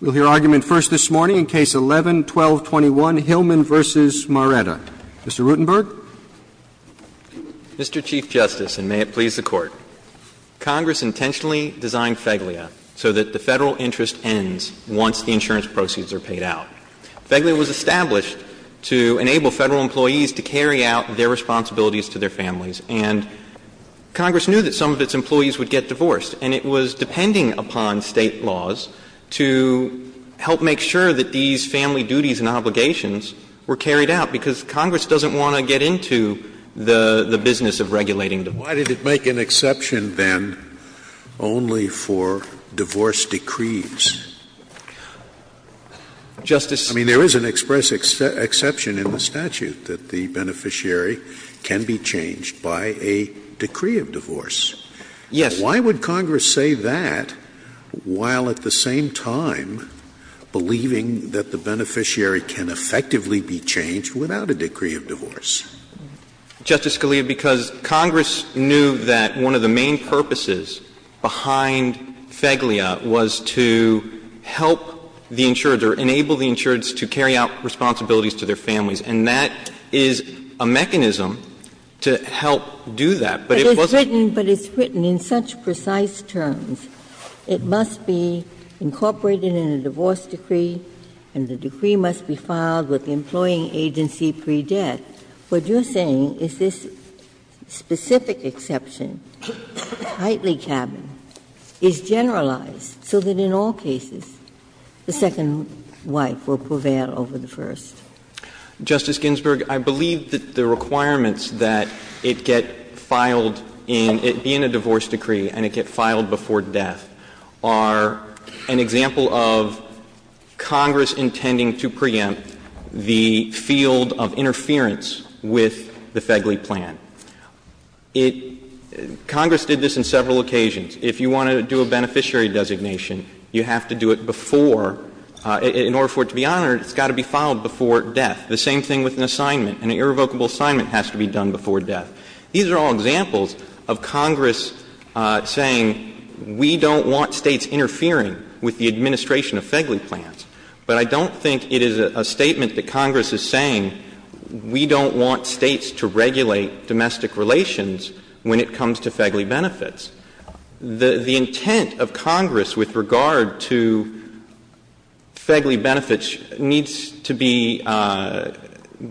We'll hear argument first this morning in Case 11-1221, Hillman v. Maretta. Mr. Rutenberg. Mr. Chief Justice, and may it please the Court. Congress intentionally designed FEGLIA so that the Federal interest ends once the insurance proceeds are paid out. FEGLIA was established to enable Federal employees to carry out their responsibilities to their families, and Congress knew that some of its employees would get divorced, and it was depending upon State laws to help make sure that these family duties and obligations were carried out, because Congress doesn't want to get into the business of regulating divorce. Why did it make an exception, then, only for divorce decrees? Justice — I mean, there is an express exception in the statute that the beneficiary can be changed by a decree of divorce. Yes. Why would Congress say that while at the same time believing that the beneficiary can effectively be changed without a decree of divorce? Justice Scalia, because Congress knew that one of the main purposes behind FEGLIA was to help the insured or enable the insured to carry out responsibilities to their families, and that is a mechanism to help do that, but it wasn't. It's written, but it's written in such precise terms. It must be incorporated in a divorce decree, and the decree must be filed with the employing agency pre-death. What you're saying is this specific exception, Hightley Cabin, is generalized so that in all cases the second wife will prevail over the first. Justice Ginsburg, I believe that the requirements that it get filed in — it be in a divorce decree and it get filed before death are an example of Congress intending to preempt the field of interference with the FEGLIA plan. It — Congress did this in several occasions. If you want to do a beneficiary designation, you have to do it before — in order for it to be honored, it's got to be filed before death. The same thing with an assignment. An irrevocable assignment has to be done before death. These are all examples of Congress saying we don't want States interfering with the administration of FEGLIA plans, but I don't think it is a statement that Congress is saying we don't want States to regulate domestic relations when it comes to FEGLIA benefits. The intent of Congress with regard to FEGLIA benefits needs to be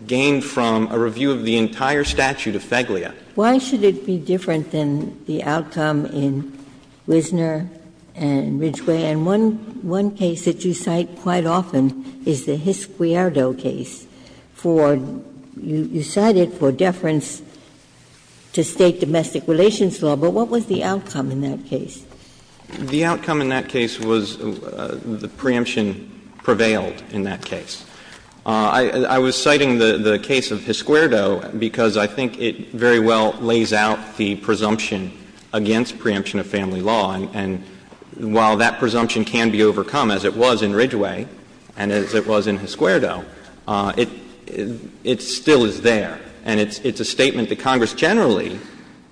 gained from a review of the entire statute of FEGLIA. Ginsburg. Why should it be different than the outcome in Wisner and Ridgway? And one case that you cite quite often is the Hisquierdo case for — you cite it for the outcome in that case. The outcome in that case was the preemption prevailed in that case. I was citing the case of Hisquierdo because I think it very well lays out the presumption against preemption of family law, and while that presumption can be overcome, as it was in Ridgway and as it was in Hisquierdo, it still is there. And it's a statement that Congress generally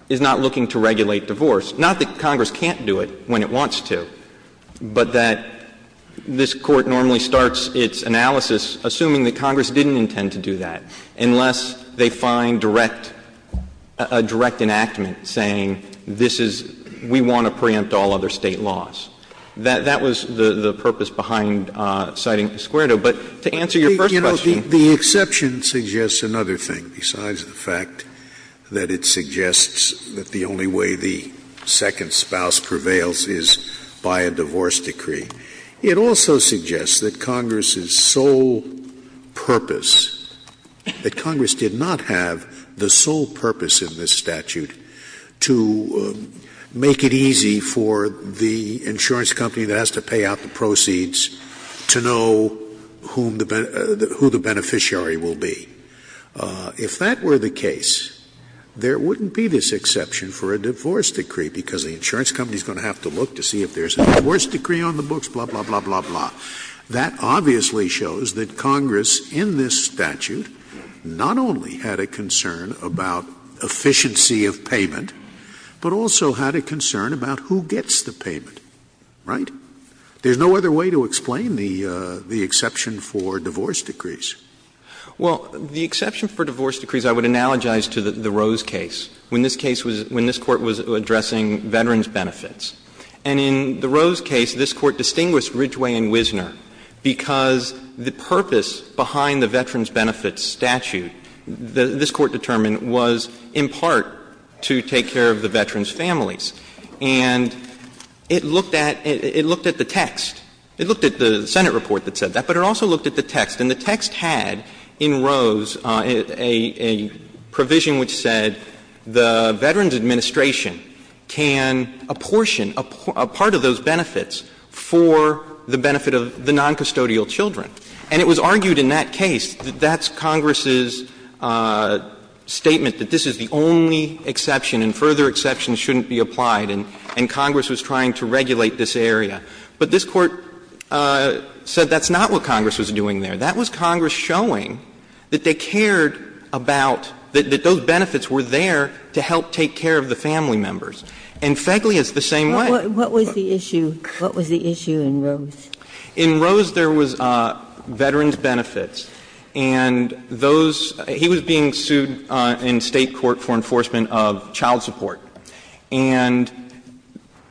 is not looking to regulate divorce. Not that Congress can't do it when it wants to, but that this Court normally starts its analysis assuming that Congress didn't intend to do that, unless they find direct — a direct enactment saying this is — we want to preempt all other State laws. That was the purpose behind citing Hisquierdo. But to answer your first question. The exception suggests another thing, besides the fact that it suggests that the only way the second spouse prevails is by a divorce decree. It also suggests that Congress's sole purpose, that Congress did not have the sole purpose in this statute to make it easy for the insurance company that has to pay out the proceeds to know whom the — who the beneficiary will be. If that were the case, there wouldn't be this exception for a divorce decree, because the insurance company is going to have to look to see if there's a divorce decree on the books, blah, blah, blah, blah, blah. That obviously shows that Congress, in this statute, not only had a concern about efficiency of payment, but also had a concern about who gets the payment, right? There's no other way to explain the exception for divorce decrees. Well, the exception for divorce decrees, I would analogize to the Rose case, when this case was — when this Court was addressing veterans' benefits. And in the Rose case, this Court distinguished Ridgway and Wisner because the purpose behind the veterans' benefits statute, this Court determined, was in part to take care of the veterans' families. And it looked at — it looked at the text. It looked at the Senate report that said that, but it also looked at the text. And the text had, in Rose, a provision which said the Veterans Administration can apportion a part of those benefits for the benefit of the noncustodial children. And it was argued in that case that that's Congress's statement, that this is the only exception, and further exceptions shouldn't be applied, and Congress was trying to regulate this area. But this Court said that's not what Congress was doing there. That was Congress showing that they cared about — that those benefits were there to help take care of the family members. And Fegley is the same way. What was the issue? In Rose, there was veterans' benefits. And those — he was being sued in State court for enforcement of child support. And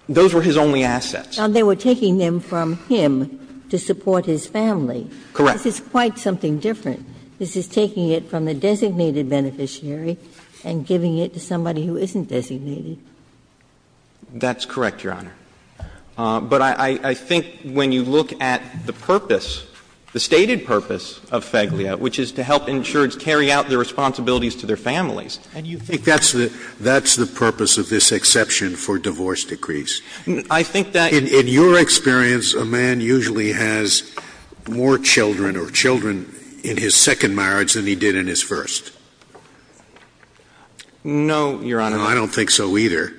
those were his only assets. Ginsburg. Now, they were taking them from him to support his family. Correct. This is quite something different. This is taking it from the designated beneficiary and giving it to somebody who isn't designated. That's correct, Your Honor. But I think when you look at the purpose, the stated purpose of Fegleya, which is to help insureds carry out their responsibilities to their families, and you think that's the purpose of this exception for divorce decrees. I think that in your experience, a man usually has more children or children in his second marriage than he did in his first. No, Your Honor. I don't think so either.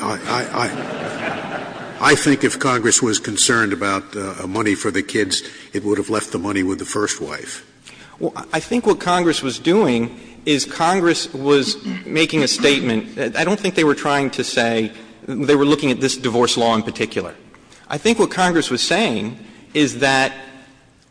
I think if Congress was concerned about money for the kids, it would have left the money with the first wife. Well, I think what Congress was doing is Congress was making a statement. I don't think they were trying to say — they were looking at this divorce law in particular. I think what Congress was saying is that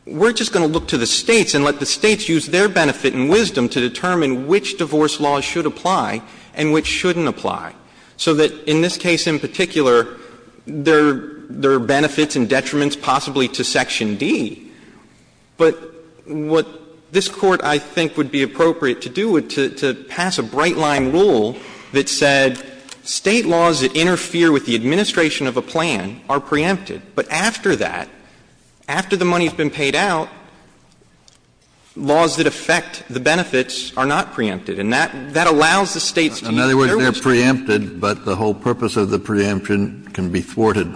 we're just going to look to the States and let the States use their benefit and wisdom to determine which divorce law should apply and which shouldn't apply. So that in this case in particular, there are benefits and detriments possibly to Section D. But what this Court, I think, would be appropriate to do is to pass a bright-line rule that said State laws that interfere with the administration of a plan are preempted. But after that, after the money has been paid out, laws that affect the benefits are not preempted. And that allows the States to use their wisdom. Kennedy, it's not just preempted, but the whole purpose of the preemption can be thwarted.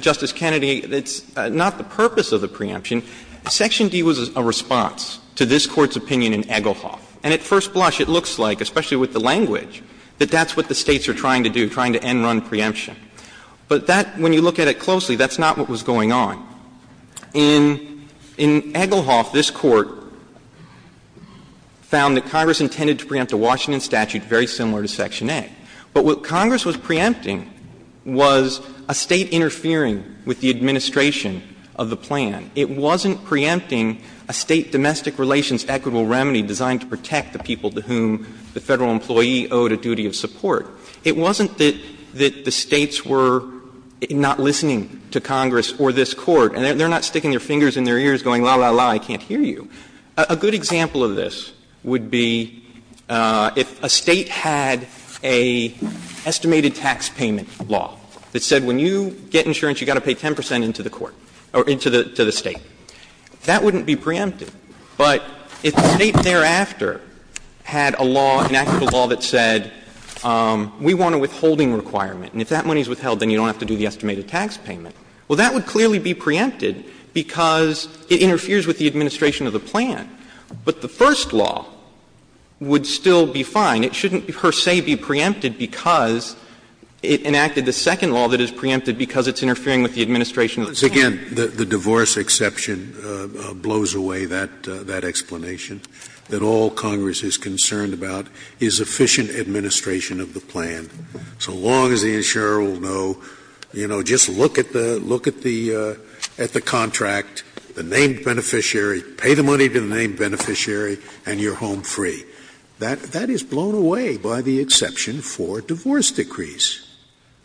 Justice Kennedy, it's not the purpose of the preemption. Section D was a response to this Court's opinion in Egglehoff. And at first blush, it looks like, especially with the language, that that's what the States are trying to do, trying to end-run preemption. But that, when you look at it closely, that's not what was going on. In Egglehoff, this Court found that Congress intended to preempt a Washington statute very similar to Section A. But what Congress was preempting was a State interfering with the administration of the plan. It wasn't preempting a State domestic relations equitable remedy designed to protect the people to whom the Federal employee owed a duty of support. It wasn't that the States were not listening to Congress or this Court, and they're not sticking their fingers in their ears going, la, la, la, I can't hear you. A good example of this would be if a State had a estimated tax payment law that said when you get insurance, you've got to pay 10 percent into the court or into the State. That wouldn't be preempted. But if the State thereafter had a law, enacted a law that said, we want a withholding requirement, and if that money is withheld, then you don't have to do the estimated tax payment, well, that would clearly be preempted because it interferes with the administration of the plan, but the first law would still be fine. It shouldn't, per se, be preempted because it enacted the second law that is preempted because it's interfering with the administration of the plan. Scalia, the divorce exception blows away that explanation, that all Congress is concerned about is efficient administration of the plan. So long as the insurer will know, you know, just look at the contract, the named beneficiary, pay the money to the named beneficiary, and you're home free. That is blown away by the exception for divorce decrees.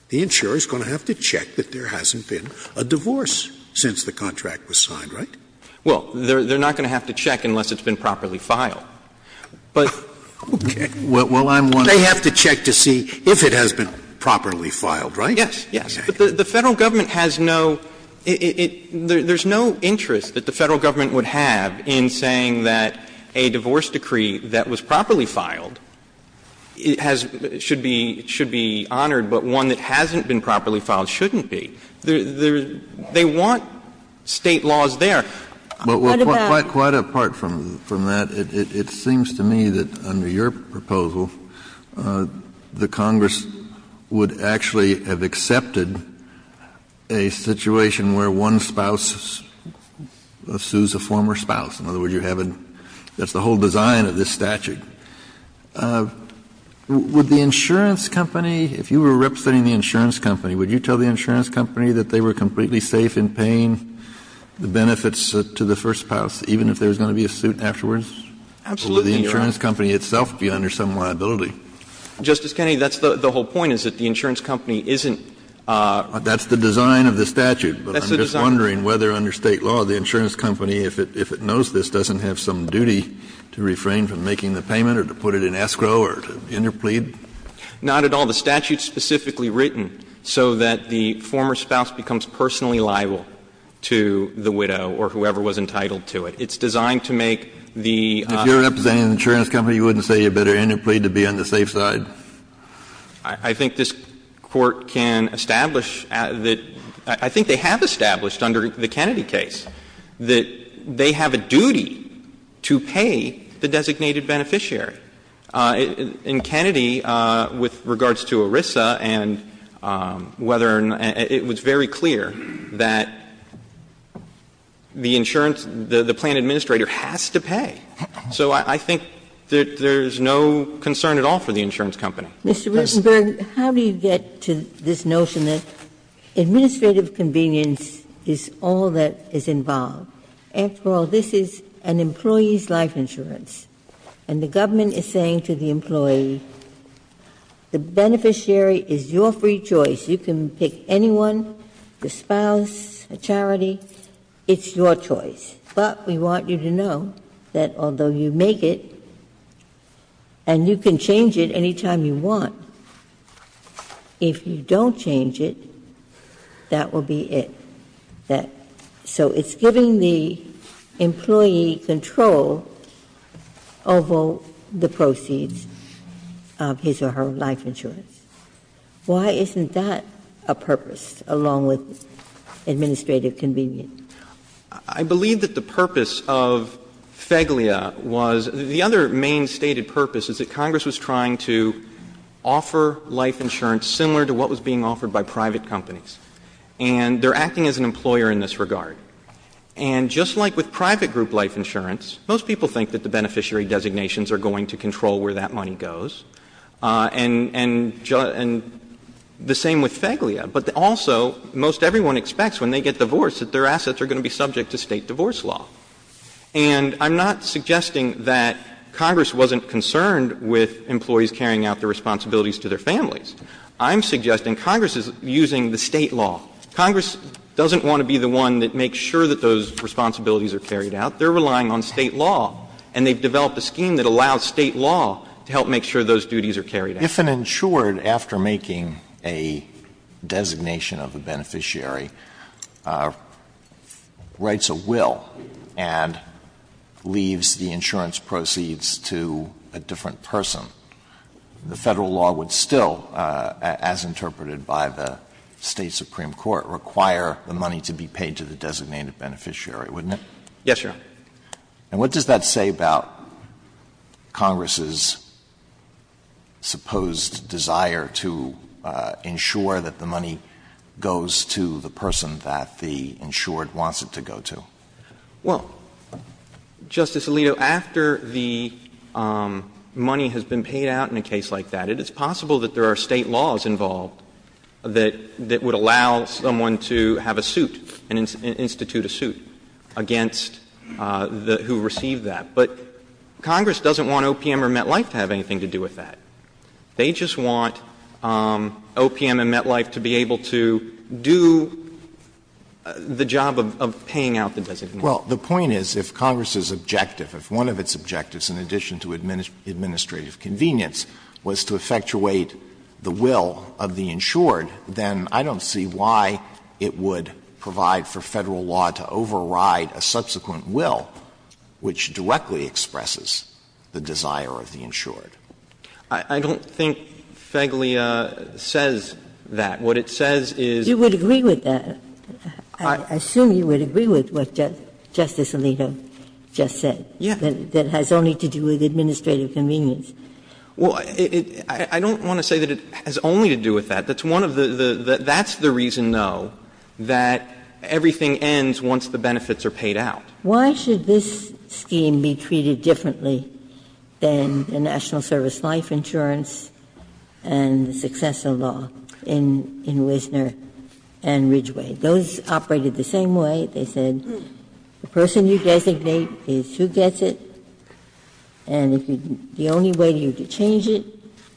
The insurer is going to have to check that there hasn't been a divorce since the contract was signed, right? Well, they're not going to have to check unless it's been properly filed. But they have to check to see if it has been properly filed, right? Yes. Yes. But the Federal Government has no – there's no interest that the Federal Government would have in saying that a divorce decree that was properly filed should be honored but one that hasn't been properly filed shouldn't be. They want State laws there. But what about the other? Quite apart from that, it seems to me that under your proposal, the Congress would actually have accepted a situation where one spouse sues a former spouse. In other words, you haven't – that's the whole design of this statute. Would the insurance company, if you were representing the insurance company, would you tell the insurance company that they were completely safe in paying the benefits to the first spouse, even if there was going to be a suit afterwards? Absolutely, Your Honor. Would the insurance company itself be under some liability? Justice Kennedy, that's the whole point, is that the insurance company isn't – That's the design of the statute. That's the design. But I'm just wondering whether under State law, the insurance company, if it knows this doesn't have some duty to refrain from making the payment or to put it in escrow or to interplead. Not at all. The statute's specifically written so that the former spouse becomes personally liable to the widow or whoever was entitled to it. It's designed to make the – If you're representing the insurance company, you wouldn't say you better interplead to be on the safe side? I think this Court can establish that – I think they have established under the Kennedy case that they have a duty to pay the designated beneficiary. In Kennedy, with regards to ERISA and whether – it was very clear that the insurance – the plan administrator has to pay. So I think that there's no concern at all for the insurance company. Mr. Rutenberg, how do you get to this notion that administrative convenience is all that is involved? After all, this is an employee's life insurance, and the government is saying to the employee, the beneficiary is your free choice. You can pick anyone, a spouse, a charity. It's your choice. But we want you to know that although you make it and you can change it any time you want, if you don't change it, that will be it. So it's giving the employee control over the proceeds of his or her life insurance. Why isn't that a purpose, along with administrative convenience? I believe that the purpose of FEGLIA was – the other main stated purpose is that the beneficiary offer life insurance similar to what was being offered by private companies, and they're acting as an employer in this regard. And just like with private group life insurance, most people think that the beneficiary designations are going to control where that money goes, and the same with FEGLIA. But also, most everyone expects when they get divorced that their assets are going to be subject to State divorce law. And I'm not suggesting that Congress wasn't concerned with employees carrying out their responsibilities to their families. I'm suggesting Congress is using the State law. Congress doesn't want to be the one that makes sure that those responsibilities are carried out. They're relying on State law, and they've developed a scheme that allows State law to help make sure those duties are carried out. Alito, if an insured, after making a designation of a beneficiary, writes a will and leaves the insurance proceeds to a different person, the Federal law would still, as interpreted by the State supreme court, require the money to be paid to the designated beneficiary, wouldn't it? Yes, Your Honor. And what does that say about Congress's supposed desire to ensure that the money goes to the person that the insured wants it to go to? Well, Justice Alito, after the money has been paid out in a case like that, it is possible that there are State laws involved that would allow someone to have a suit and institute a suit against the one who received that. But Congress doesn't want OPM or MetLife to have anything to do with that. They just want OPM and MetLife to be able to do the job of paying out the designation. Well, the point is, if Congress's objective, if one of its objectives, in addition to administrative convenience, was to effectuate the will of the insured, then I don't see why it would provide for Federal law to override a subsequent will which directly expresses the desire of the insured. I don't think FEGLIA says that. What it says is you would agree with that. I assume you would agree with what Justice Alito just said. Yeah. That has only to do with administrative convenience. Well, I don't want to say that it has only to do with that. That's one of the, that's the reason, though, that everything ends once the benefits are paid out. Why should this scheme be treated differently than the National Service Life Insurance and the successor law in Wisner and Ridgeway? Those operated the same way. They said the person you designate is who gets it, and if you, the only way you could change it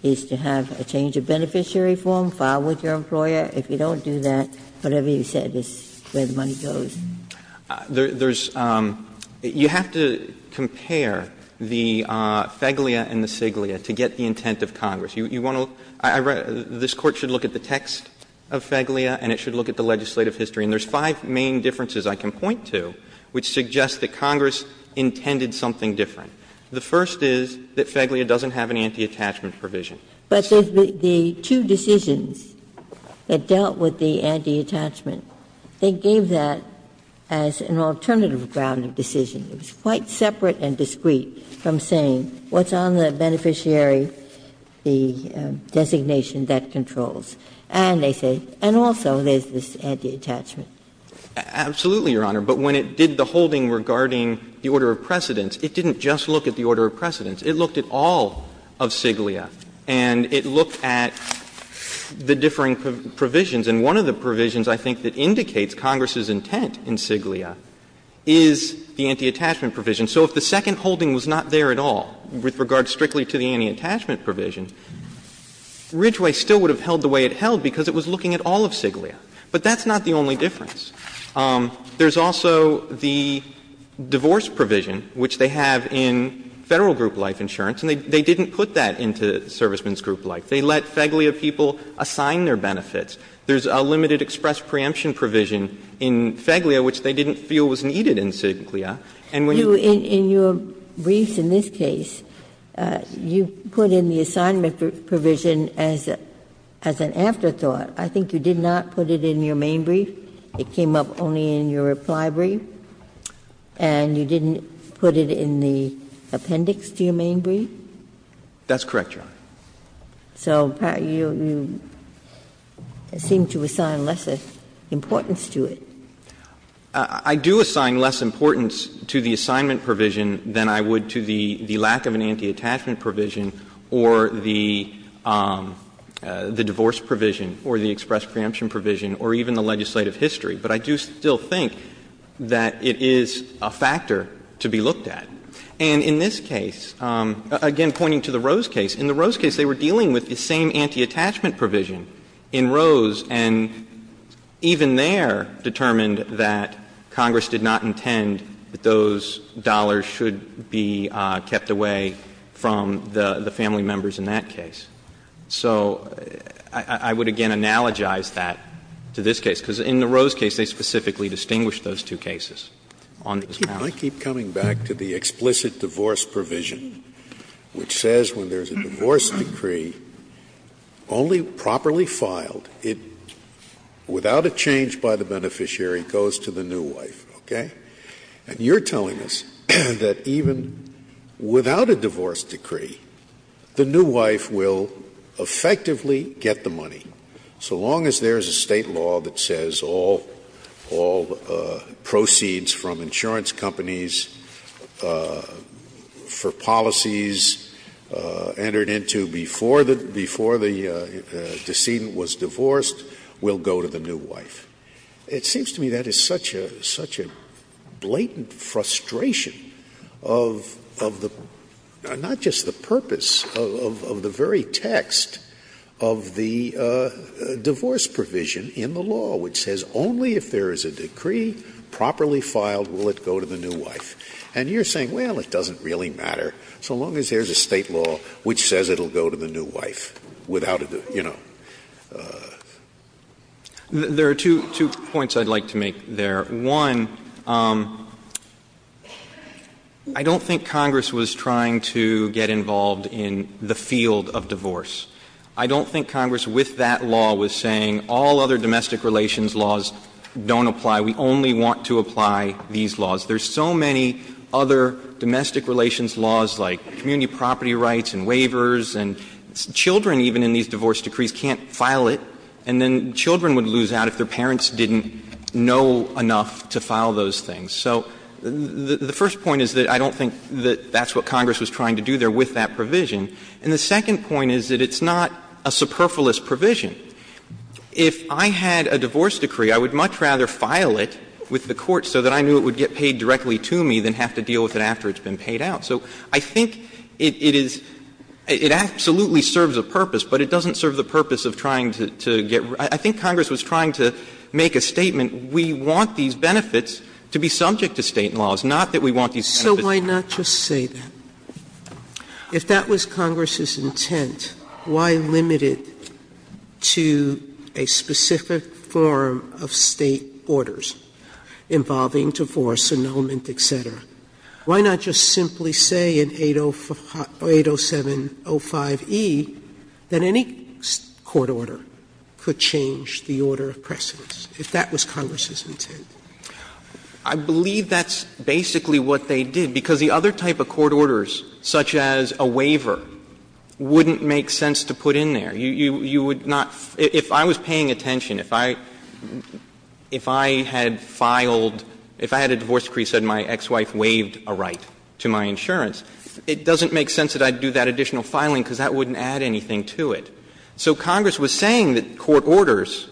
is to have a change of beneficiary form filed with your employer. If you don't do that, whatever you said is where the money goes. There's, you have to compare the FEGLIA and the CIGLIA to get the intent of Congress. You want to, this Court should look at the text of FEGLIA and it should look at the legislative history, and there's five main differences I can point to which suggest that Congress intended something different. The first is that FEGLIA doesn't have an anti-attachment provision. But the two decisions that dealt with the anti-attachment, they gave that as an alternative ground of decision. It was quite separate and discreet from saying what's on the beneficiary, the designation that controls. And they say, and also there's this anti-attachment. Absolutely, Your Honor, but when it did the holding regarding the order of precedence, it didn't just look at the order of precedence. It looked at all of CIGLIA and it looked at the differing provisions. And one of the provisions, I think, that indicates Congress's intent in CIGLIA is the anti-attachment provision. So if the second holding was not there at all with regard strictly to the anti-attachment provision, Ridgeway still would have held the way it held because it was looking at all of CIGLIA. But that's not the only difference. There's also the divorce provision, which they have in Federal group life insurance, and they didn't put that into servicemen's group life. They let FEGLIA people assign their benefits. There's a limited express preemption provision in FEGLIA, which they didn't feel was needed in CIGLIA. And when you put it in your briefs in this case, you put in the assignment provision as an afterthought. I think you did not put it in your main brief. It came up only in your reply brief, and you didn't put it in the appendix to your main brief? That's correct, Your Honor. So you seem to assign less importance to it. I do assign less importance to the assignment provision than I would to the lack of an anti-attachment provision or the divorce provision or the express preemption provision or even the legislative history. But I do still think that it is a factor to be looked at. And in this case, again pointing to the Rose case, in the Rose case they were dealing with the same anti-attachment provision in Rose, and even there determined that Congress did not intend that those dollars should be kept away from the family members in that case. So I would again analogize that to this case, because in the Rose case they specifically distinguished those two cases on this balance. Scalia, I keep coming back to the explicit divorce provision, which says when there is a divorce decree only properly filed, it, without a change by the beneficiary, goes to the new wife, okay? And you're telling us that even without a divorce decree, the new wife will effectively get the money, so long as there is a State law that says all proceeds from insurance companies for policies entered into before the decedent was divorced will go to the new wife. It seems to me that is such a blatant frustration of the — not just the purpose of the very text of the divorce provision in the law, which says only if there is a decree properly filed will it go to the new wife. And you're saying, well, it doesn't really matter, so long as there is a State law which says it will go to the new wife without a, you know. There are two points I'd like to make there. One, I don't think Congress was trying to get involved in the field of divorce. I don't think Congress with that law was saying all other domestic relations laws don't apply. We only want to apply these laws. There are so many other domestic relations laws like community property rights and waivers, and children even in these divorce decrees can't file it, and then children would lose out if their parents didn't know enough to file those things. So the first point is that I don't think that that's what Congress was trying to do there with that provision. And the second point is that it's not a superfluous provision. If I had a divorce decree, I would much rather file it with the court so that I knew it would get paid directly to me than have to deal with it after it's been paid out. So I think it is — it absolutely serves a purpose, but it doesn't serve the purpose of trying to get — I think Congress was trying to make a statement, we want these benefits to be subject to State laws, not that we want these benefits to be— Sotomayor, if that was Congress's intent, why limit it to a specific form of State orders involving divorce, annulment, et cetera? Why not just simply say in 807.05e that any court order could change the order of precedence, if that was Congress's intent? I believe that's basically what they did, because the other type of court orders, such as a waiver, wouldn't make sense to put in there. You would not — if I was paying attention, if I had filed — if I had a divorce decree, said my ex-wife waived a right to my insurance, it doesn't make sense that I'd do that additional filing, because that wouldn't add anything to it. So Congress was saying that court orders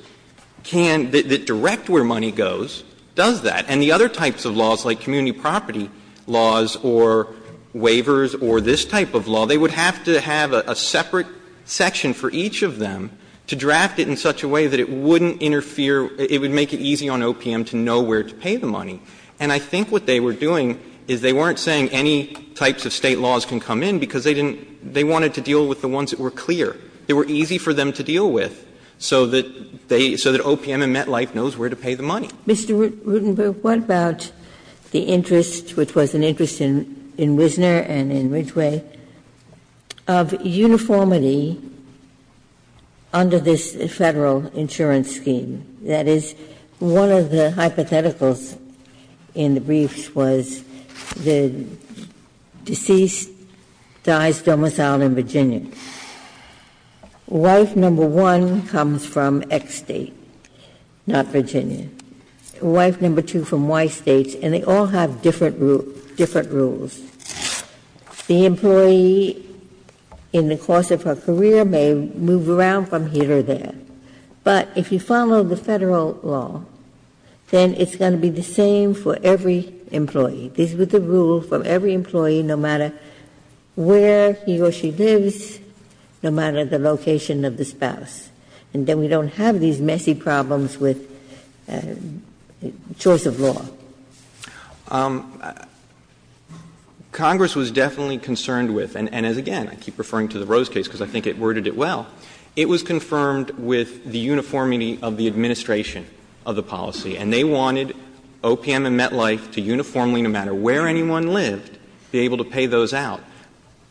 can — that direct where money goes does that, and the other types of laws, like community property laws or waivers or this type of law, they would have to have a separate section for each of them to draft it in such a way that it wouldn't interfere — it would make it easy on OPM to know where to pay the money. And I think what they were doing is they weren't saying any types of State laws can come in, because they didn't — they wanted to deal with the ones that were clear, that were easy for them to deal with, so that they — so that OPM and MetLife knows where to pay the money. Ginsburg. Mr. Rutenberg, what about the interest, which was an interest in Wisner and in Ridgway, of uniformity under this Federal insurance scheme? That is, one of the hypotheticals in the briefs was the deceased dies domiciled in Virginia. Wife number one comes from X State, not Virginia. Wife number two from Y State, and they all have different rules. The employee, in the course of her career, may move around from here to there. But if you follow the Federal law, then it's going to be the same for every employee. This is the rule for every employee, no matter where he or she lives, no matter the location of the spouse. And then we don't have these messy problems with choice of law. Congress was definitely concerned with — and as, again, I keep referring to the Rose case because I think it worded it well — it was confirmed with the uniformity of the administration of the policy, and they wanted OPM and MetLife to uniformly, no matter where anyone lived, be able to pay those out.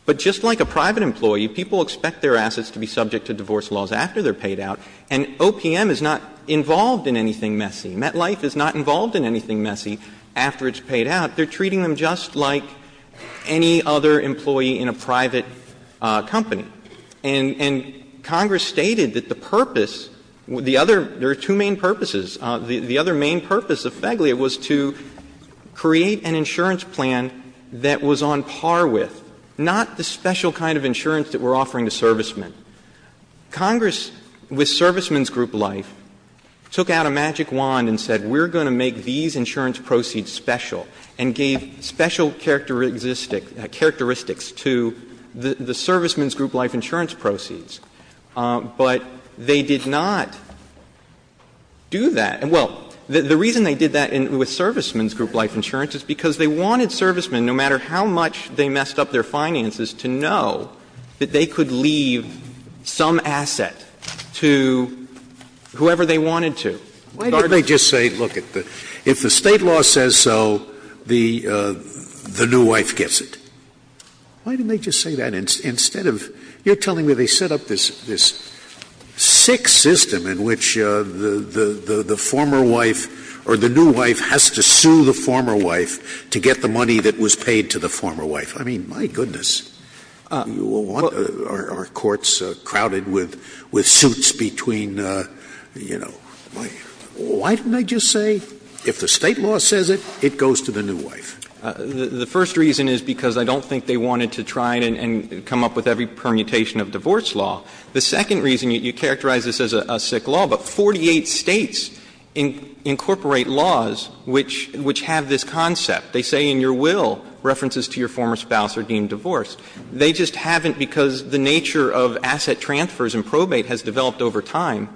But just like a private employee, people expect their assets to be subject to divorce laws after they're paid out, and OPM is not involved in anything messy. MetLife is not involved in anything messy after it's paid out. They're treating them just like any other employee in a private company. And Congress stated that the purpose, the other — there are two main purposes. The other main purpose of FEGLIA was to create an insurance plan that was on par with, not the special kind of insurance that we're offering to servicemen. Congress, with Servicemen's Group Life, took out a magic wand and said, we're going to make these insurance proceeds special, and gave special characteristics to the Servicemen's Group Life insurance proceeds. But they did not do that. And, well, the reason they did that with Servicemen's Group Life insurance is because they wanted servicemen, no matter how much they messed up their finances, to know that they could leave some asset to whoever they wanted to. Scalia. Why didn't they just say, look, if the State law says so, the new wife gets it? Why didn't they just say that instead of — you're telling me they set up this sick system in which the former wife or the new wife has to sue the former wife to get the money that was paid to the former wife. I mean, my goodness. Are courts crowded with suits between, you know — why didn't they just say, if the State law says it, it goes to the new wife? The first reason is because I don't think they wanted to try and come up with every permutation of divorce law. The second reason, you characterize this as a sick law, but 48 States incorporate laws which have this concept. They say in your will, references to your former spouse are deemed divorced. They just haven't, because the nature of asset transfers and probate has developed over time.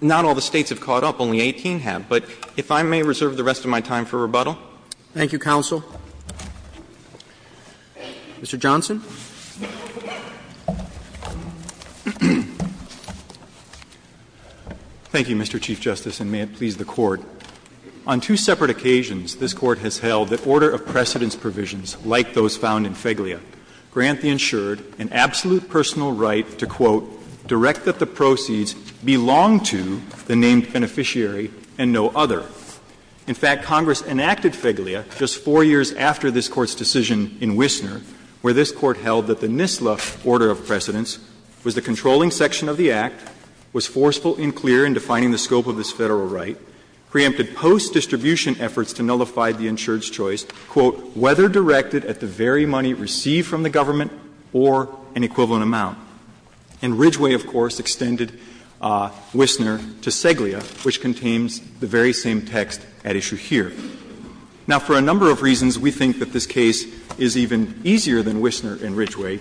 Not all the States have caught up. Only 18 have. But if I may reserve the rest of my time for rebuttal. Roberts. Thank you, counsel. Mr. Johnson. Thank you, Mr. Chief Justice, and may it please the Court. On two separate occasions, this Court has held that order of precedence provisions like those found in Feglia grant the insured an absolute personal right to, quote, direct that the proceeds belong to the named beneficiary and no other. In fact, Congress enacted Feglia just four years after this Court's decision in Wisner, where this Court held that the NISLA order of precedence was the controlling section of the Act, was forceful and clear in defining the scope of this Federal personal right, preempted post-distribution efforts to nullify the insured's choice, quote, whether directed at the very money received from the government or an equivalent amount. And Ridgway, of course, extended Wisner to Feglia, which contains the very same text at issue here. Now, for a number of reasons, we think that this case is even easier than Wisner and Ridgway.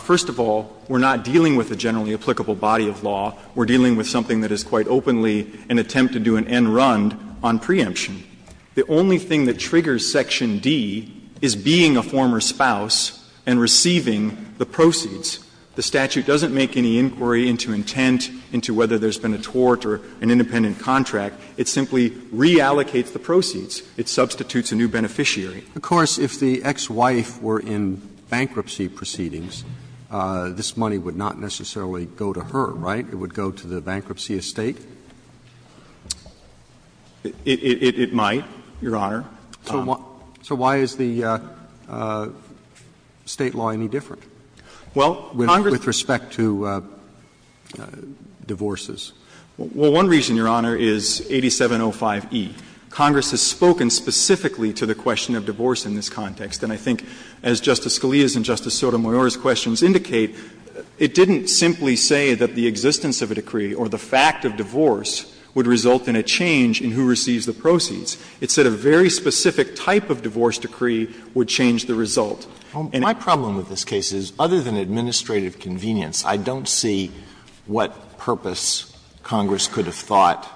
First of all, we're not dealing with a generally applicable body of law. We're dealing with something that is quite openly an attempt to do an end run on preemption. The only thing that triggers section D is being a former spouse and receiving the proceeds. The statute doesn't make any inquiry into intent, into whether there's been a tort or an independent contract. It simply reallocates the proceeds. It substitutes a new beneficiary. Roberts. If the ex-wife were in bankruptcy proceedings, this money would not necessarily go to her, right? It would go to the bankruptcy estate? It might, Your Honor. So why is the State law any different? Well, Congress With respect to divorces? Well, one reason, Your Honor, is 8705e. Congress has spoken specifically to the question of divorce in this context. And I think as Justice Scalia's and Justice Sotomayor's questions indicate, it didn't simply say that the existence of a decree or the fact of divorce would result in a change in who receives the proceeds. It said a very specific type of divorce decree would change the result. My problem with this case is, other than administrative convenience, I don't see what purpose Congress could have thought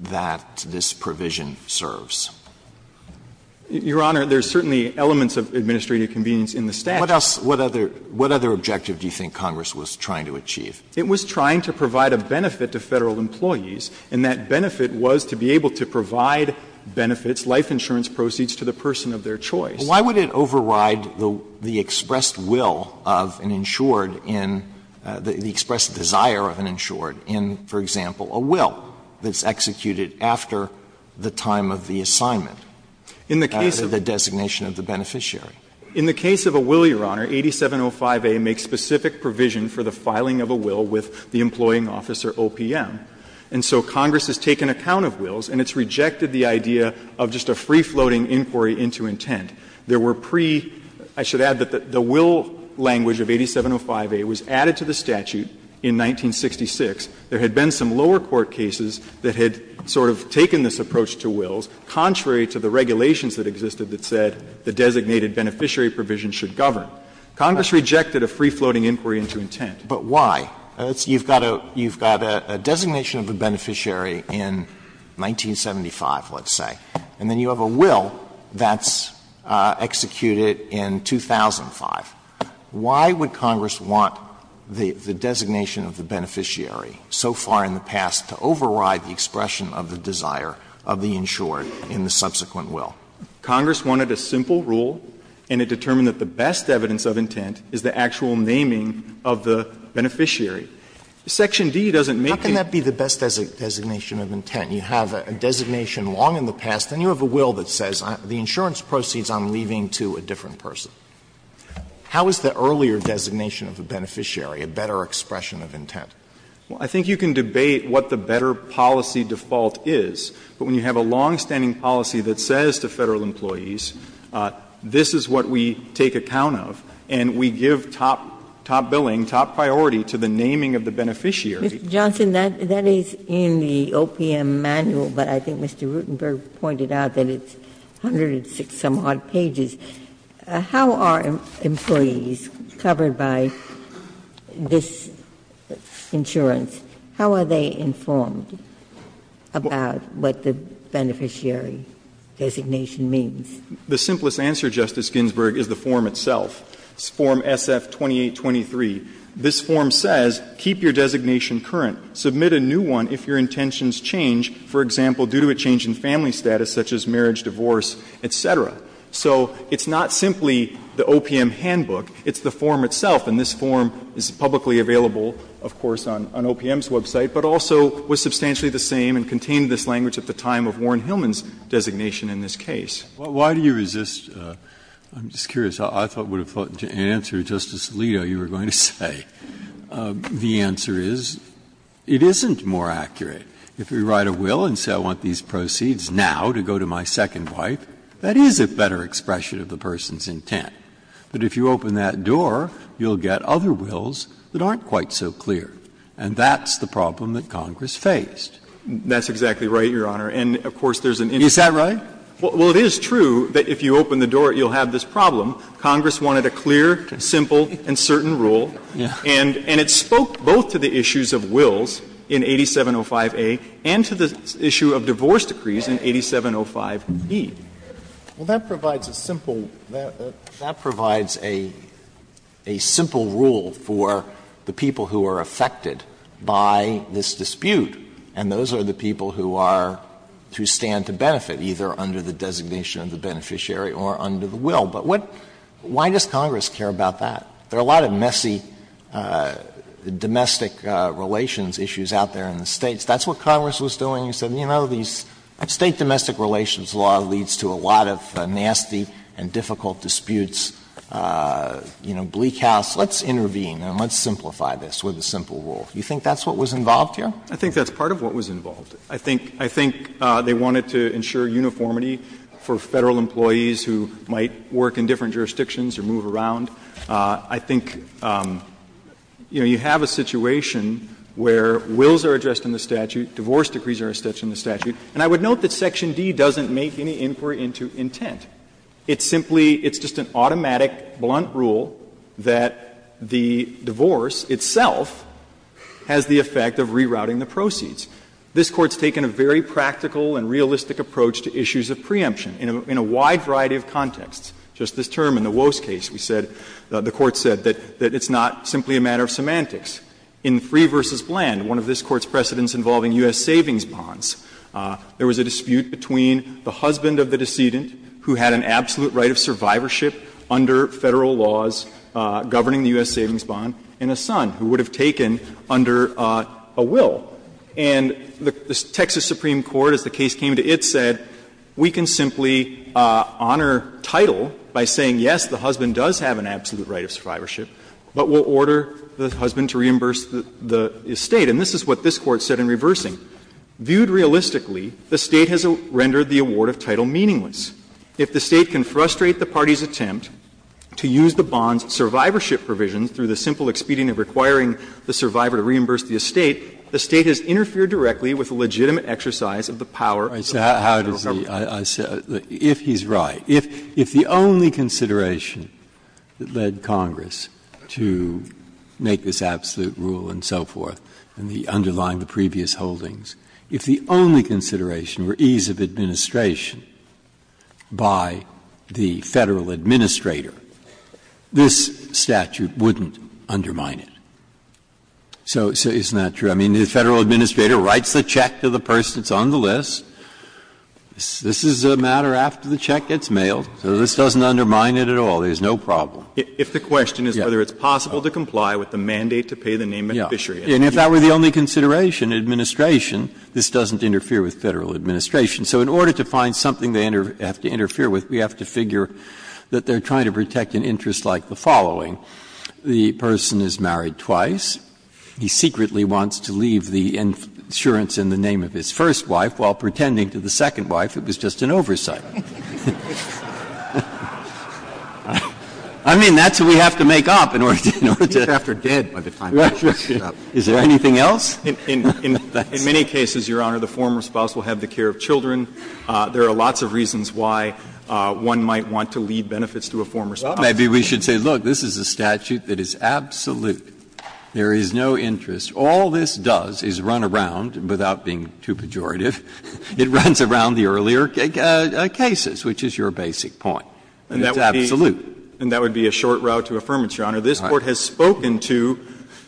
that this provision serves. Your Honor, there's certainly elements of administrative convenience in the statute. What else, what other objective do you think Congress was trying to achieve? It was trying to provide a benefit to Federal employees, and that benefit was to be able to provide benefits, life insurance proceeds, to the person of their choice. Why would it override the expressed will of an insured in, the expressed desire of an insured in, for example, a will that's executed after the time of the assignment, the designation of the beneficiary? In the case of a will, Your Honor, 8705a makes specific provision for the filing of a will with the employing officer OPM. And so Congress has taken account of wills, and it's rejected the idea of just a free-floating inquiry into intent. There were pre — I should add that the will language of 8705a was added to the statute in 1966. There had been some lower court cases that had sort of taken this approach to wills, contrary to the regulations that existed that said the designated beneficiary provision should govern. Congress rejected a free-floating inquiry into intent. Alito, but why? You've got a designation of a beneficiary in 1975, let's say, and then you have a will that's executed in 2005. Why would Congress want the designation of the beneficiary so far in the past to override the expression of the desire of the insured in the subsequent will? Congress wanted a simple rule, and it determined that the best evidence of intent is the actual naming of the beneficiary. Section D doesn't make it. Alito, how can that be the best designation of intent? You have a designation long in the past, and you have a will that says the insurance proceeds on leaving to a different person. How is the earlier designation of a beneficiary a better expression of intent? Well, I think you can debate what the better policy default is, but when you have a longstanding policy that says to Federal employees, this is what we take account of, and we give top billing, top priority to the naming of the beneficiary. Ginsburg. Mr. Johnson, that is in the OPM manual, but I think Mr. Rutenberg pointed out that it's 106-some-odd pages. How are employees covered by this insurance, how are they informed about what the beneficiary designation means? The simplest answer, Justice Ginsburg, is the form itself, form SF-2823. This form says keep your designation current, submit a new one if your intentions change, for example, due to a change in family status such as marriage, divorce, et cetera. So it's not simply the OPM handbook, it's the form itself, and this form is publicly available, of course, on OPM's website, but also was substantially the same and contained this language at the time of Warren Hillman's designation in this case. Breyer. I'm just curious, I thought it would have been an answer, Justice Alito, you were going to say. The answer is, it isn't more accurate. If we write a will and say I want these proceeds now to go to my second wife, that is a better expression of the person's intent, but if you open that door, you'll get other wills that aren't quite so clear, and that's the problem that Congress faced. That's exactly right, Your Honor, and of course, there's an issue. Is that right? Well, it is true that if you open the door, you'll have this problem. Congress wanted a clear, simple, and certain rule, and it spoke both to the issues of wills in 8705A and to the issue of divorce decrees in 8705B. Well, that provides a simple rule for the people who are affected by this dispute, and those are the people who are to stand to benefit, either under the designation of the beneficiary or under the will. But what why does Congress care about that? There are a lot of messy domestic relations issues out there in the States. That's what Congress was doing. It said, you know, these State domestic relations law leads to a lot of nasty and difficult disputes, you know, bleak house. Let's intervene and let's simplify this with a simple rule. You think that's what was involved here? I think that's part of what was involved. I think they wanted to ensure uniformity for Federal employees who might work in different jurisdictions or move around. I think, you know, you have a situation where wills are addressed in the statute, divorce decrees are addressed in the statute, and I would note that section D doesn't make any inquiry into intent. It's simply, it's just an automatic, blunt rule that the divorce itself has the effect of rerouting the proceeds. This Court's taken a very practical and realistic approach to issues of preemption in a wide variety of contexts. Just this term in the Woese case, we said, the Court said that it's not simply a matter of semantics. In Free v. Bland, one of this Court's precedents involving U.S. savings bonds, there was a dispute between the husband of the decedent who had an absolute right of survivorship under Federal laws governing the U.S. savings bond and a son who would have taken under a will. And the Texas Supreme Court, as the case came to it, said, we can simply honor title by saying, yes, the husband does have an absolute right of survivorship, but we'll order the husband to reimburse the estate. And this is what this Court said in reversing. Viewed realistically, the State has rendered the award of title meaningless. If the State can frustrate the party's attempt to use the bond's survivorship provisions through the simple expedient of requiring the survivor to reimburse the estate, the State has interfered directly with the legitimate exercise of the power of the Federal government. Breyer, if he's right, if the only consideration that led Congress to do that is to make this absolute rule and so forth, and the underlying, the previous holdings, if the only consideration were ease of administration by the Federal administrator, this statute wouldn't undermine it. So isn't that true? I mean, the Federal administrator writes the check to the person that's on the list. This is a matter after the check gets mailed, so this doesn't undermine it at all. There's no problem. If the question is whether it's possible to comply with the mandate to pay the name of the fishery. And if that were the only consideration, administration, this doesn't interfere with Federal administration. So in order to find something they have to interfere with, we have to figure that they're trying to protect an interest like the following. The person is married twice. He secretly wants to leave the insurance in the name of his first wife while pretending to the second wife it was just an oversight. I mean, that's what we have to make up in order to. Is there anything else? In many cases, Your Honor, the former spouse will have the care of children. There are lots of reasons why one might want to leave benefits to a former spouse. Maybe we should say, look, this is a statute that is absolute. There is no interest. All this does is run around, without being too pejorative, it runs around the earlier cases, which is your basic point. And it's absolute. And that would be a short route to affirmation, Your Honor. This Court has spoken to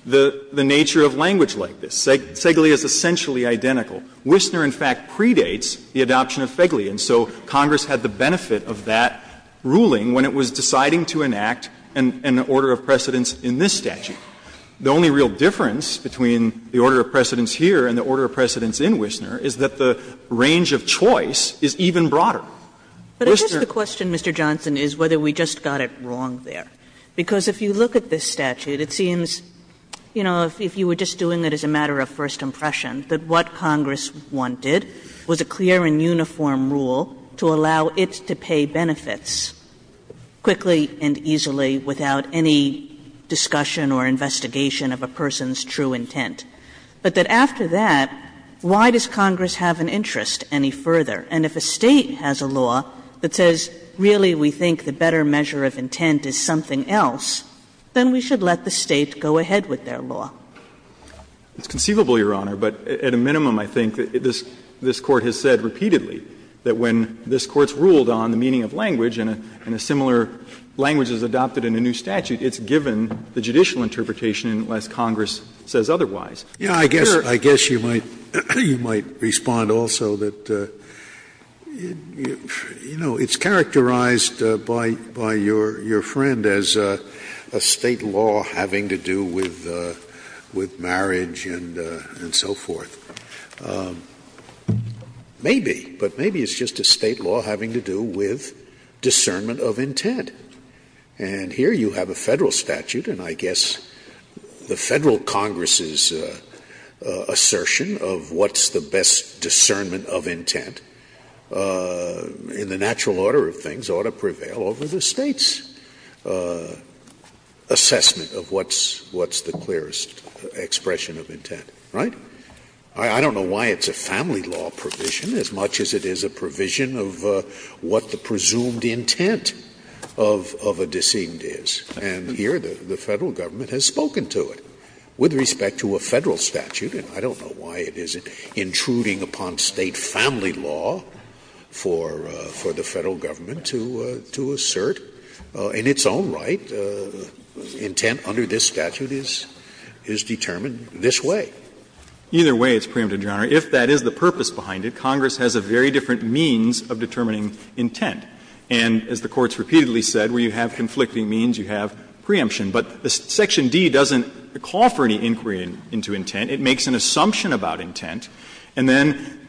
the nature of language like this. Segle is essentially identical. Wissner, in fact, predates the adoption of Segle. And so Congress had the benefit of that ruling when it was deciding to enact an order of precedence in this statute. The only real difference between the order of precedence here and the order of precedence in Wissner is that the range of choice is even broader. Wissner --" Kagan But I guess the question, Mr. Johnson, is whether we just got it wrong there. Because if you look at this statute, it seems, you know, if you were just doing it as a matter of first impression, that what Congress wanted was a clear and uniform rule to allow it to pay benefits quickly and easily without any discussion or investigation of a person's true intent, but that after that, why would Congress have an interest any further? And if a State has a law that says, really, we think the better measure of intent is something else, then we should let the State go ahead with their law. Johnson It's conceivable, Your Honor, but at a minimum, I think, this Court has said repeatedly that when this Court's ruled on the meaning of language and a similar language is adopted in a new statute, it's given the judicial interpretation unless Congress says otherwise. Scalia I guess you might respond also that, you know, it's characterized by your friend as a State law having to do with marriage and so forth. Maybe, but maybe it's just a State law having to do with discernment of intent. And here you have a Federal statute, and I guess the Federal Congress's assertion of what's the best discernment of intent in the natural order of things ought to prevail over the State's assessment of what's the clearest expression of intent, right? I don't know why it's a family law provision as much as it is a provision of what the presumed intent of a decedent is. And here the Federal Government has spoken to it. With respect to a Federal statute, and I don't know why it is intruding upon State family law for the Federal Government to assert in its own right intent under this statute is determined this way. Either way, it's preempted, Your Honor, if that is the purpose behind it, Congress has a very different means of determining intent. And as the Court's repeatedly said, where you have conflicting means, you have preemption. But Section D doesn't call for any inquiry into intent. It makes an assumption about intent, and then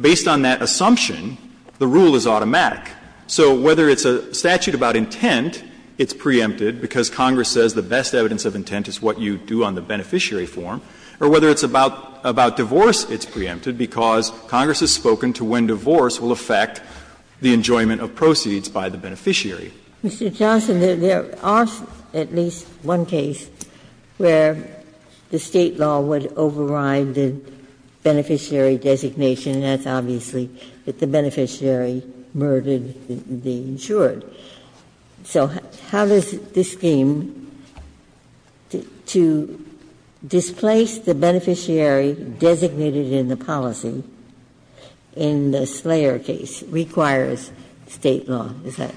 based on that assumption, the rule is automatic. So whether it's a statute about intent, it's preempted because Congress says the best evidence of intent is what you do on the beneficiary form, or whether it's about divorce, it's preempted because Congress has spoken to when divorce will affect the enjoyment of proceeds by the beneficiary. Ginsburg. Mr. Johnson, there are at least one case where the State law would override the beneficiary designation, and that's obviously that the beneficiary murdered the insured. So how does this scheme to displace the beneficiary designated in the policy in the Slayer case requires State law? Is that?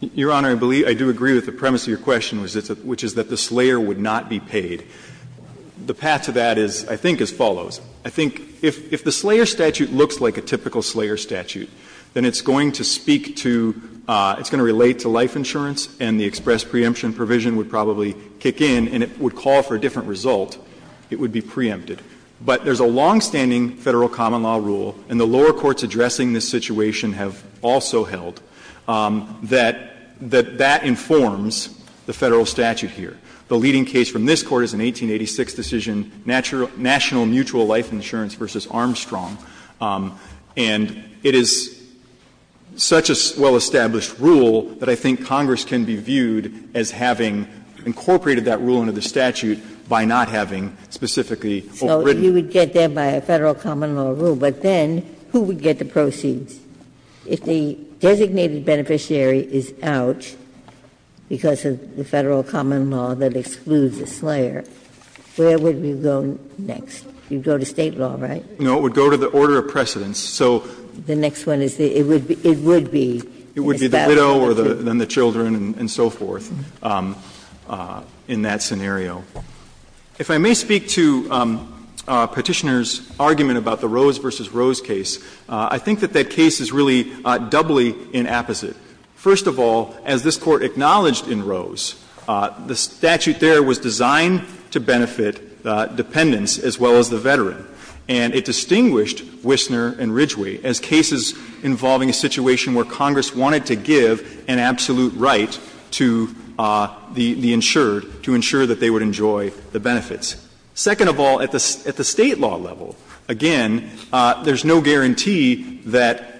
Your Honor, I believe I do agree with the premise of your question, which is that the Slayer would not be paid. The path to that is, I think, as follows. I think if the Slayer statute looks like a typical Slayer statute, then it's going to speak to, it's going to relate to life insurance, and the express preemption provision would probably kick in, and it would call for a different result, it would be preempted. But there's a longstanding Federal common law rule, and the lower courts addressing this situation have also held, that that informs the Federal statute here. The leading case from this Court is an 1886 decision, National Mutual Life Insurance v. Armstrong. And it is such a well-established rule that I think Congress can be viewed as having incorporated that rule into the statute by not having specifically overridden it. Ginsburg. So you would get there by a Federal common law rule, but then who would get the proceeds? If the designated beneficiary is out because of the Federal common law that excludes the Slayer, where would we go next? You would go to State law, right? No, it would go to the order of precedence. So the next one is, it would be, it would be, it would be the widow, or then the children and so forth in that scenario. If I may speak to Petitioner's argument about the Rose v. Rose case, I think that that case is really doubly inapposite. First of all, as this Court acknowledged in Rose, the statute there was designed to benefit dependents as well as the veteran. And it distinguished Wissner and Ridgway as cases involving a situation where Congress wanted to give an absolute right to the insured to ensure that they would enjoy the benefits. Second of all, at the State law level, again, there's no guarantee that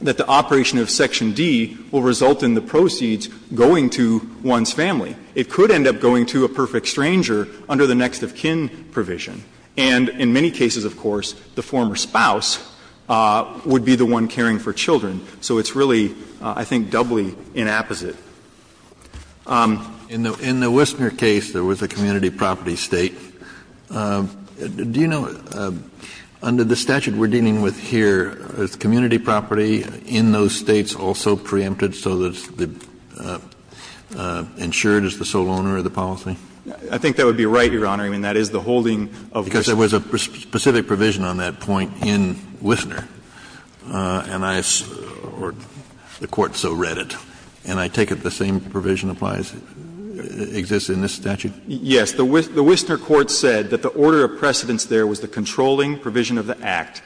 the operation of Section D will result in the proceeds going to one's family. It could end up going to a perfect stranger under the next of kin provision. And in many cases, of course, the former spouse would be the one caring for children. So it's really, I think, doubly inapposite. Kennedy. In the Wissner case, there was a community property State. Do you know, under the statute we're dealing with here, is community property in those States also preempted so that the insured is the sole owner of the policy? I think that would be right, Your Honor. I mean, that is the holding of Wissner. Because there was a specific provision on that point in Wissner, and I, or the Court so read it, and I take it the same provision applies, exists in this statute? Yes. The Wissner court said that the order of precedence there was the controlling provision of the Act.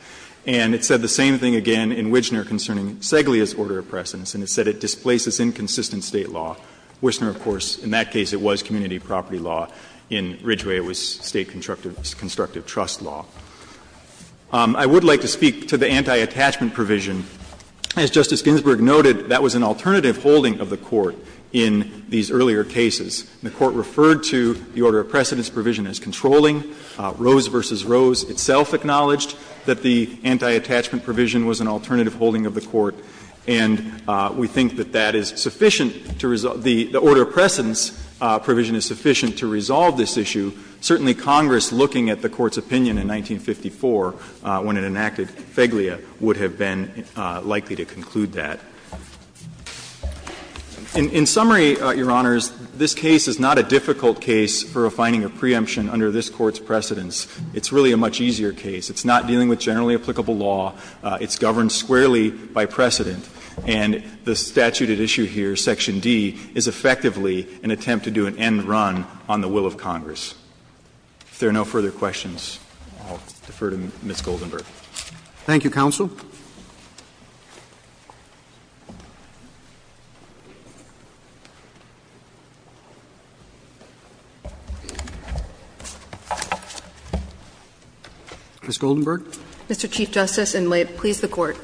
And it said the same thing again in Wissner concerning Seglia's order of precedence, and it said it displaces inconsistent State law. Wissner, of course, in that case it was community property law. In Ridgeway, it was State constructive trust law. I would like to speak to the anti-attachment provision. As Justice Ginsburg noted, that was an alternative holding of the Court in these earlier cases. The Court referred to the order of precedence provision as controlling. Rose v. Rose itself acknowledged that the anti-attachment provision was an alternative holding of the Court, and we think that that is sufficient to resolve the order of precedence provision is sufficient to resolve this issue. Certainly Congress, looking at the Court's opinion in 1954 when it enacted Seglia, would have been likely to conclude that. In summary, Your Honors, this case is not a difficult case for refining a preemption under this Court's precedence. It's really a much easier case. It's not dealing with generally applicable law. It's governed squarely by precedent. And the statute at issue here, section D, is effectively an attempt to do an end run on the will of Congress. If there are no further questions, I'll defer to Ms. Goldenberg. Roberts. Thank you, counsel. Ms. Goldenberg. Mr. Chief Justice, and may it please the Court.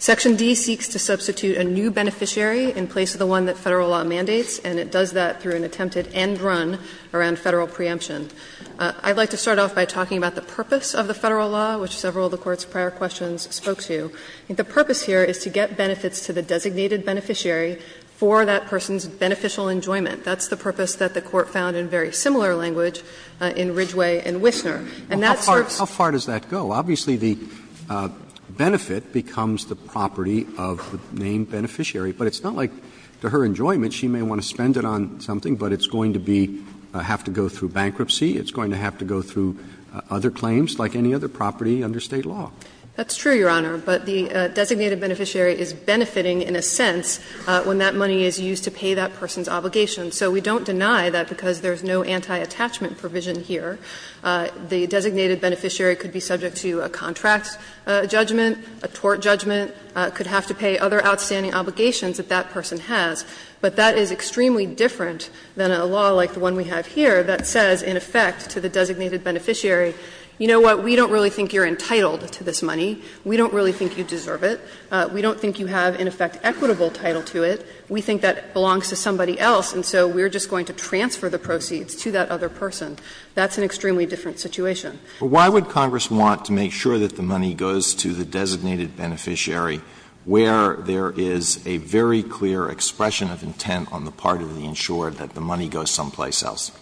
Section D seeks to substitute a new beneficiary in place of the one that Federal law mandates, and it does that through an attempted end run around Federal preemption. I'd like to start off by talking about the purpose of the Federal law, which several of the Court's prior questions spoke to. The purpose here is to get benefits to the designated beneficiary for that person's beneficial enjoyment. That's the purpose that the Court found in very similar language in Ridgway and Wissner. And that serves as a way to get benefits to the designated beneficiary. Roberts. How far does that go? Obviously, the benefit becomes the property of the named beneficiary, but it's not like, to her enjoyment, she may want to spend it on something, but it's going to be going to have to go through bankruptcy, it's going to have to go through other claims like any other property under State law. That's true, Your Honor, but the designated beneficiary is benefiting, in a sense, when that money is used to pay that person's obligation. So we don't deny that because there's no anti-attachment provision here. The designated beneficiary could be subject to a contract judgment, a tort judgment, could have to pay other outstanding obligations that that person has. But that is extremely different than a law like the one we have here that says, in effect, to the designated beneficiary, you know what, we don't really think you're entitled to this money, we don't really think you deserve it, we don't think you have, in effect, equitable title to it, we think that belongs to somebody else, and so we're just going to transfer the proceeds to that other person. That's an extremely different situation. Alitoso, why would Congress want to make sure that the money goes to the designated beneficiary, where there is a very clear expression of intent on the part of the insured that the money goes someplace else?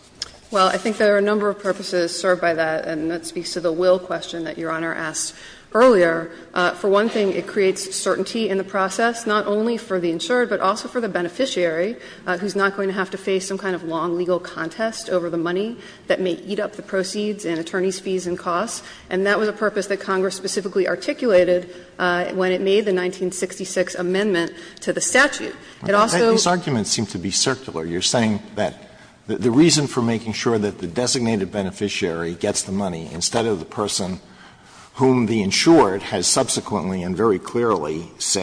Well, I think there are a number of purposes served by that, and that speaks to the will question that Your Honor asked earlier. For one thing, it creates certainty in the process, not only for the insured, but for the beneficiary who's not going to have to face some kind of long legal contest over the money that may eat up the proceeds and attorneys' fees and cost. And that was a purpose that Congress specifically articulated when it made the 1966 amendment to the statute. It also those arguments seem to be circular. You're saying that the reason for making sure that the designated beneficiary gets the money instead of the person whom the insured has subsequently, and very clearly, is to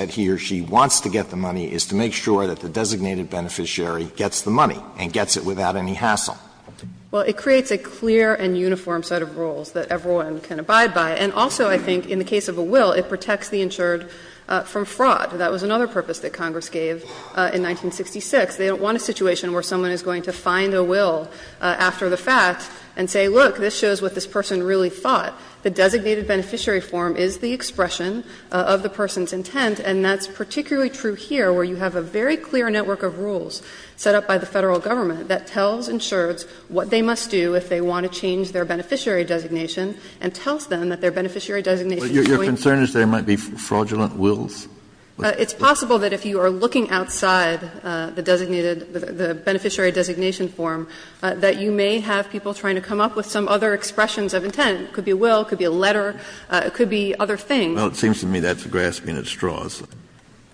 make sure that the designated beneficiary gets the money and gets it without any hassle. Well, it creates a clear and uniform set of rules that everyone can abide by. And also, I think, in the case of a will, it protects the insured from fraud. That was another purpose that Congress gave in 1966. They don't want a situation where someone is going to find a will after the fact and say, look, this shows what this person really thought. The designated beneficiary form is the expression of the person's intent, and that's a very clear network of rules set up by the Federal Government that tells insureds what they must do if they want to change their beneficiary designation and tells them that their beneficiary designation is going to be. Kennedy, your concern is there might be fraudulent wills? It's possible that if you are looking outside the designated, the beneficiary designation form, that you may have people trying to come up with some other expressions of intent. It could be a will, it could be a letter, it could be other things. Well, it seems to me that's grasping at straws.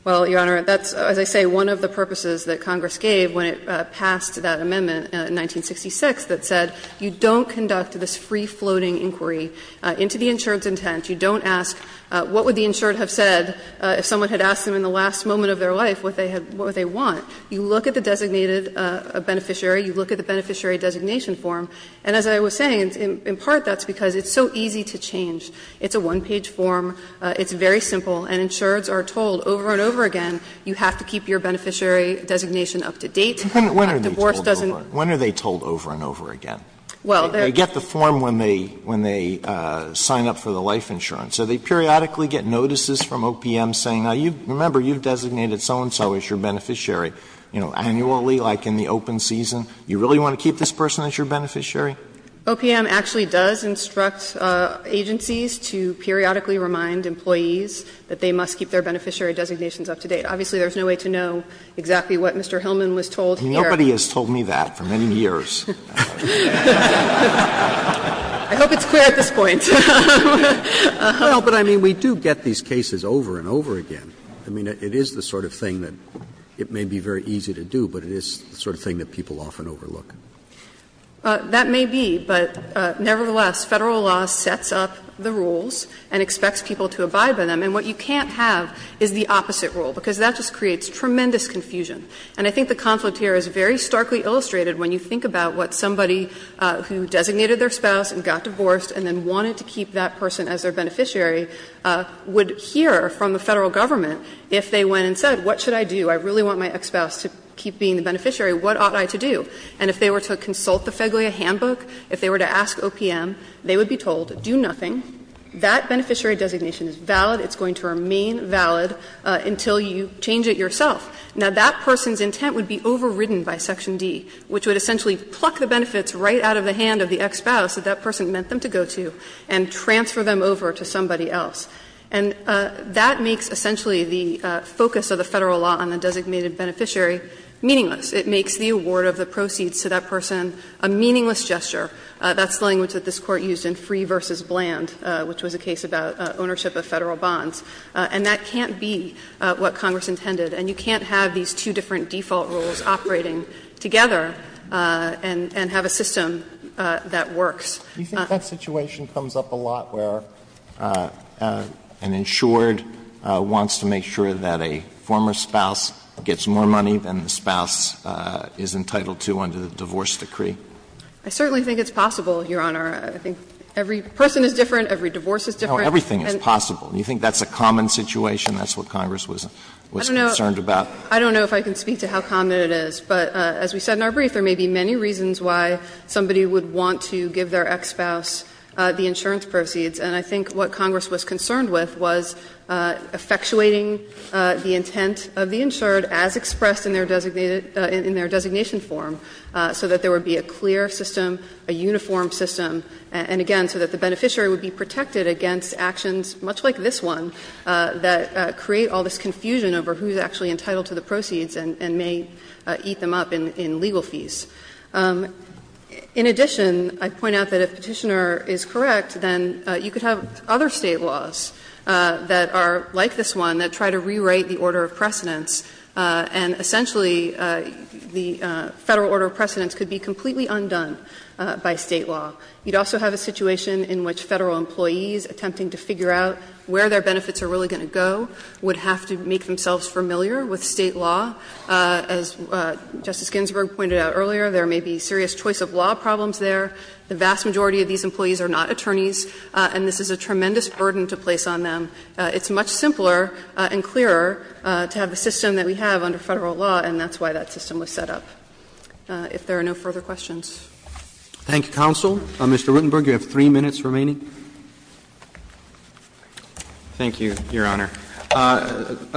Well, Your Honor, that's, as I say, one of the purposes that Congress gave when it passed that amendment in 1966 that said you don't conduct this free-floating inquiry into the insured's intent. You don't ask what would the insured have said if someone had asked them in the last moment of their life what they had what they want. You look at the designated beneficiary, you look at the beneficiary designation form, and as I was saying, in part that's because it's so easy to change. It's a one-page form. It's very simple. And insureds are told over and over again you have to keep your beneficiary designation up to date. When are they told over and over again? Well, there's You get the form when they sign up for the life insurance. So they periodically get notices from OPM saying, now, remember, you've designated so-and-so as your beneficiary. You know, annually, like in the open season, you really want to keep this person as your beneficiary? OPM actually does instruct agencies to periodically remind employees that they must keep their beneficiary designations up to date. Obviously, there's no way to know exactly what Mr. Hillman was told here. Nobody has told me that for many years. I hope it's clear at this point. Well, but I mean, we do get these cases over and over again. I mean, it is the sort of thing that it may be very easy to do, but it is the sort of thing that people often overlook. That may be, but nevertheless, Federal law sets up the rules and expects people to abide by them, and what you can't have is the opposite rule, because that just creates tremendous confusion. And I think the conflict here is very starkly illustrated when you think about what somebody who designated their spouse and got divorced and then wanted to keep that person as their beneficiary would hear from the Federal government if they went and said, what should I do? I really want my ex-spouse to keep being the beneficiary. What ought I to do? And if they were to consult the FEDOIA handbook, if they were to ask OPM, they would be told, do nothing, that beneficiary designation is valid, it's going to remain valid until you change it yourself. Now, that person's intent would be overridden by Section D, which would essentially pluck the benefits right out of the hand of the ex-spouse that that person meant them to go to and transfer them over to somebody else. And that makes essentially the focus of the Federal law on the designated beneficiary meaningless. It makes the award of the proceeds to that person a meaningless gesture. That's the language that this Court used in Free v. Bland, which was a case about ownership of Federal bonds. And that can't be what Congress intended. And you can't have these two different default rules operating together and have a system that works. Sotomayor, do you think that situation comes up a lot where an insured wants to make sure that a former spouse gets more money than the spouse is entitled to under the divorce decree? I certainly think it's possible, Your Honor. I think every person is different, every divorce is different. No, everything is possible. You think that's a common situation? That's what Congress was concerned about? I don't know if I can speak to how common it is, but as we said in our brief, there may be many reasons why somebody would want to give their ex-spouse the insurance proceeds. And I think what Congress was concerned with was effectuating the intent of the insured as expressed in their designated – in their designation form, so that there would be a clear system, a uniform system, and again, so that the beneficiary would be protected against actions much like this one that create all this confusion over who's actually entitled to the proceeds and may eat them up in legal fees. In addition, I point out that if Petitioner is correct, then you could have other State laws that are like this one that try to rewrite the order of precedence, and essentially the Federal order of precedence could be completely undone by State law. You'd also have a situation in which Federal employees attempting to figure out where their benefits are really going to go would have to make themselves familiar with State law. As Justice Ginsburg pointed out earlier, there may be serious choice of law problems there. The vast majority of these employees are not attorneys, and this is a tremendous burden to place on them. It's much simpler and clearer to have the system that we have under Federal law, and that's why that system was set up. If there are no further questions. Roberts. Roberts. Thank you, counsel. Mr. Ruttenberg, you have three minutes remaining. Ruttenberg. Thank you, Your Honor.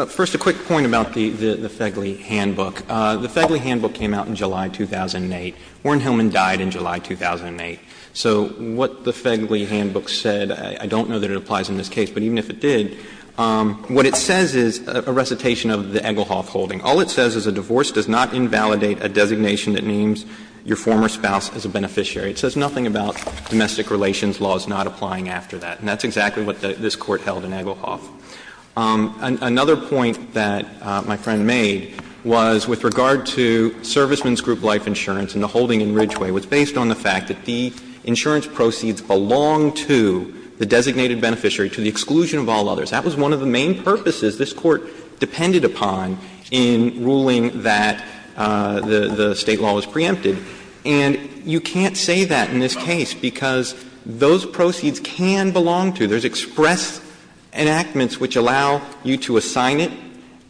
First, a quick point about the Feigle handbook. The Feigle handbook came out in July 2008. Warren Hillman died in July 2008. So what the Feigle handbook said, I don't know that it applies in this case, but even if it did, what it says is a recitation of the Egglehoff holding. All it says is a divorce does not invalidate a designation that names your former spouse as a beneficiary. It says nothing about domestic relations laws not applying after that. And that's exactly what this Court held in Egglehoff. Another point that my friend made was with regard to serviceman's group life insurance and the holding in Ridgeway was based on the fact that the insurance proceeds belong to the designated beneficiary to the exclusion of all others. That was one of the main purposes this Court depended upon in ruling that the State law was preempted. And you can't say that in this case because those proceeds can belong to. There's express enactments which allow you to assign it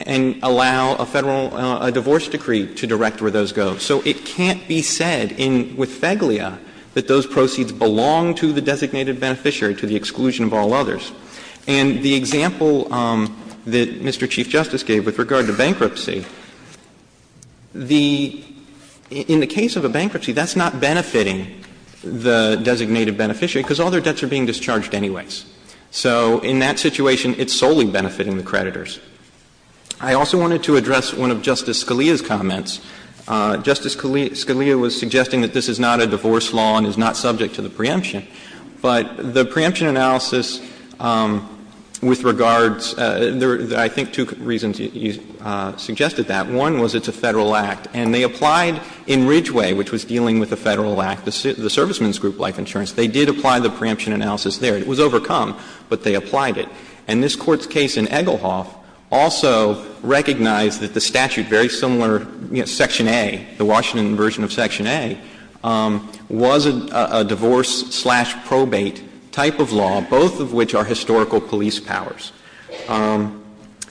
and allow a Federal divorce decree to direct where those go. So it can't be said with Feigle that those proceeds belong to the designated beneficiary to the exclusion of all others. And the example that Mr. Chief Justice gave with regard to bankruptcy, the — in the case of a bankruptcy, that's not benefiting the designated beneficiary because all their debts are being discharged anyways. So in that situation, it's solely benefiting the creditors. I also wanted to address one of Justice Scalia's comments. Justice Scalia was suggesting that this is not a divorce law and is not subject to the preemption. But the preemption analysis with regards — I think two reasons he suggested that. One was it's a Federal act. And they applied in Ridgeway, which was dealing with the Federal act, the serviceman's group life insurance. They did apply the preemption analysis there. It was overcome, but they applied it. And this Court's case in Egelhoff also recognized that the statute, very similar Section A, the Washington version of Section A, was a divorce-slash-probate type of law, both of which are historical police powers.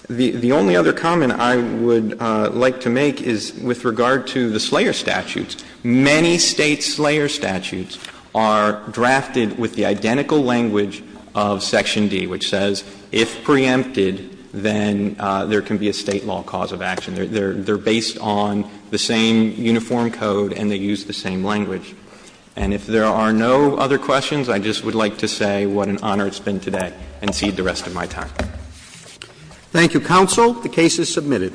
The only other comment I would like to make is with regard to the Slayer statutes. Many State Slayer statutes are drafted with the identical language of Section D, which says if preempted, then there can be a State law cause of action. They're based on the same uniform code and they use the same language. And if there are no other questions, I just would like to say what an honor it's been today and cede the rest of my time. Roberts. Thank you, counsel. The case is submitted.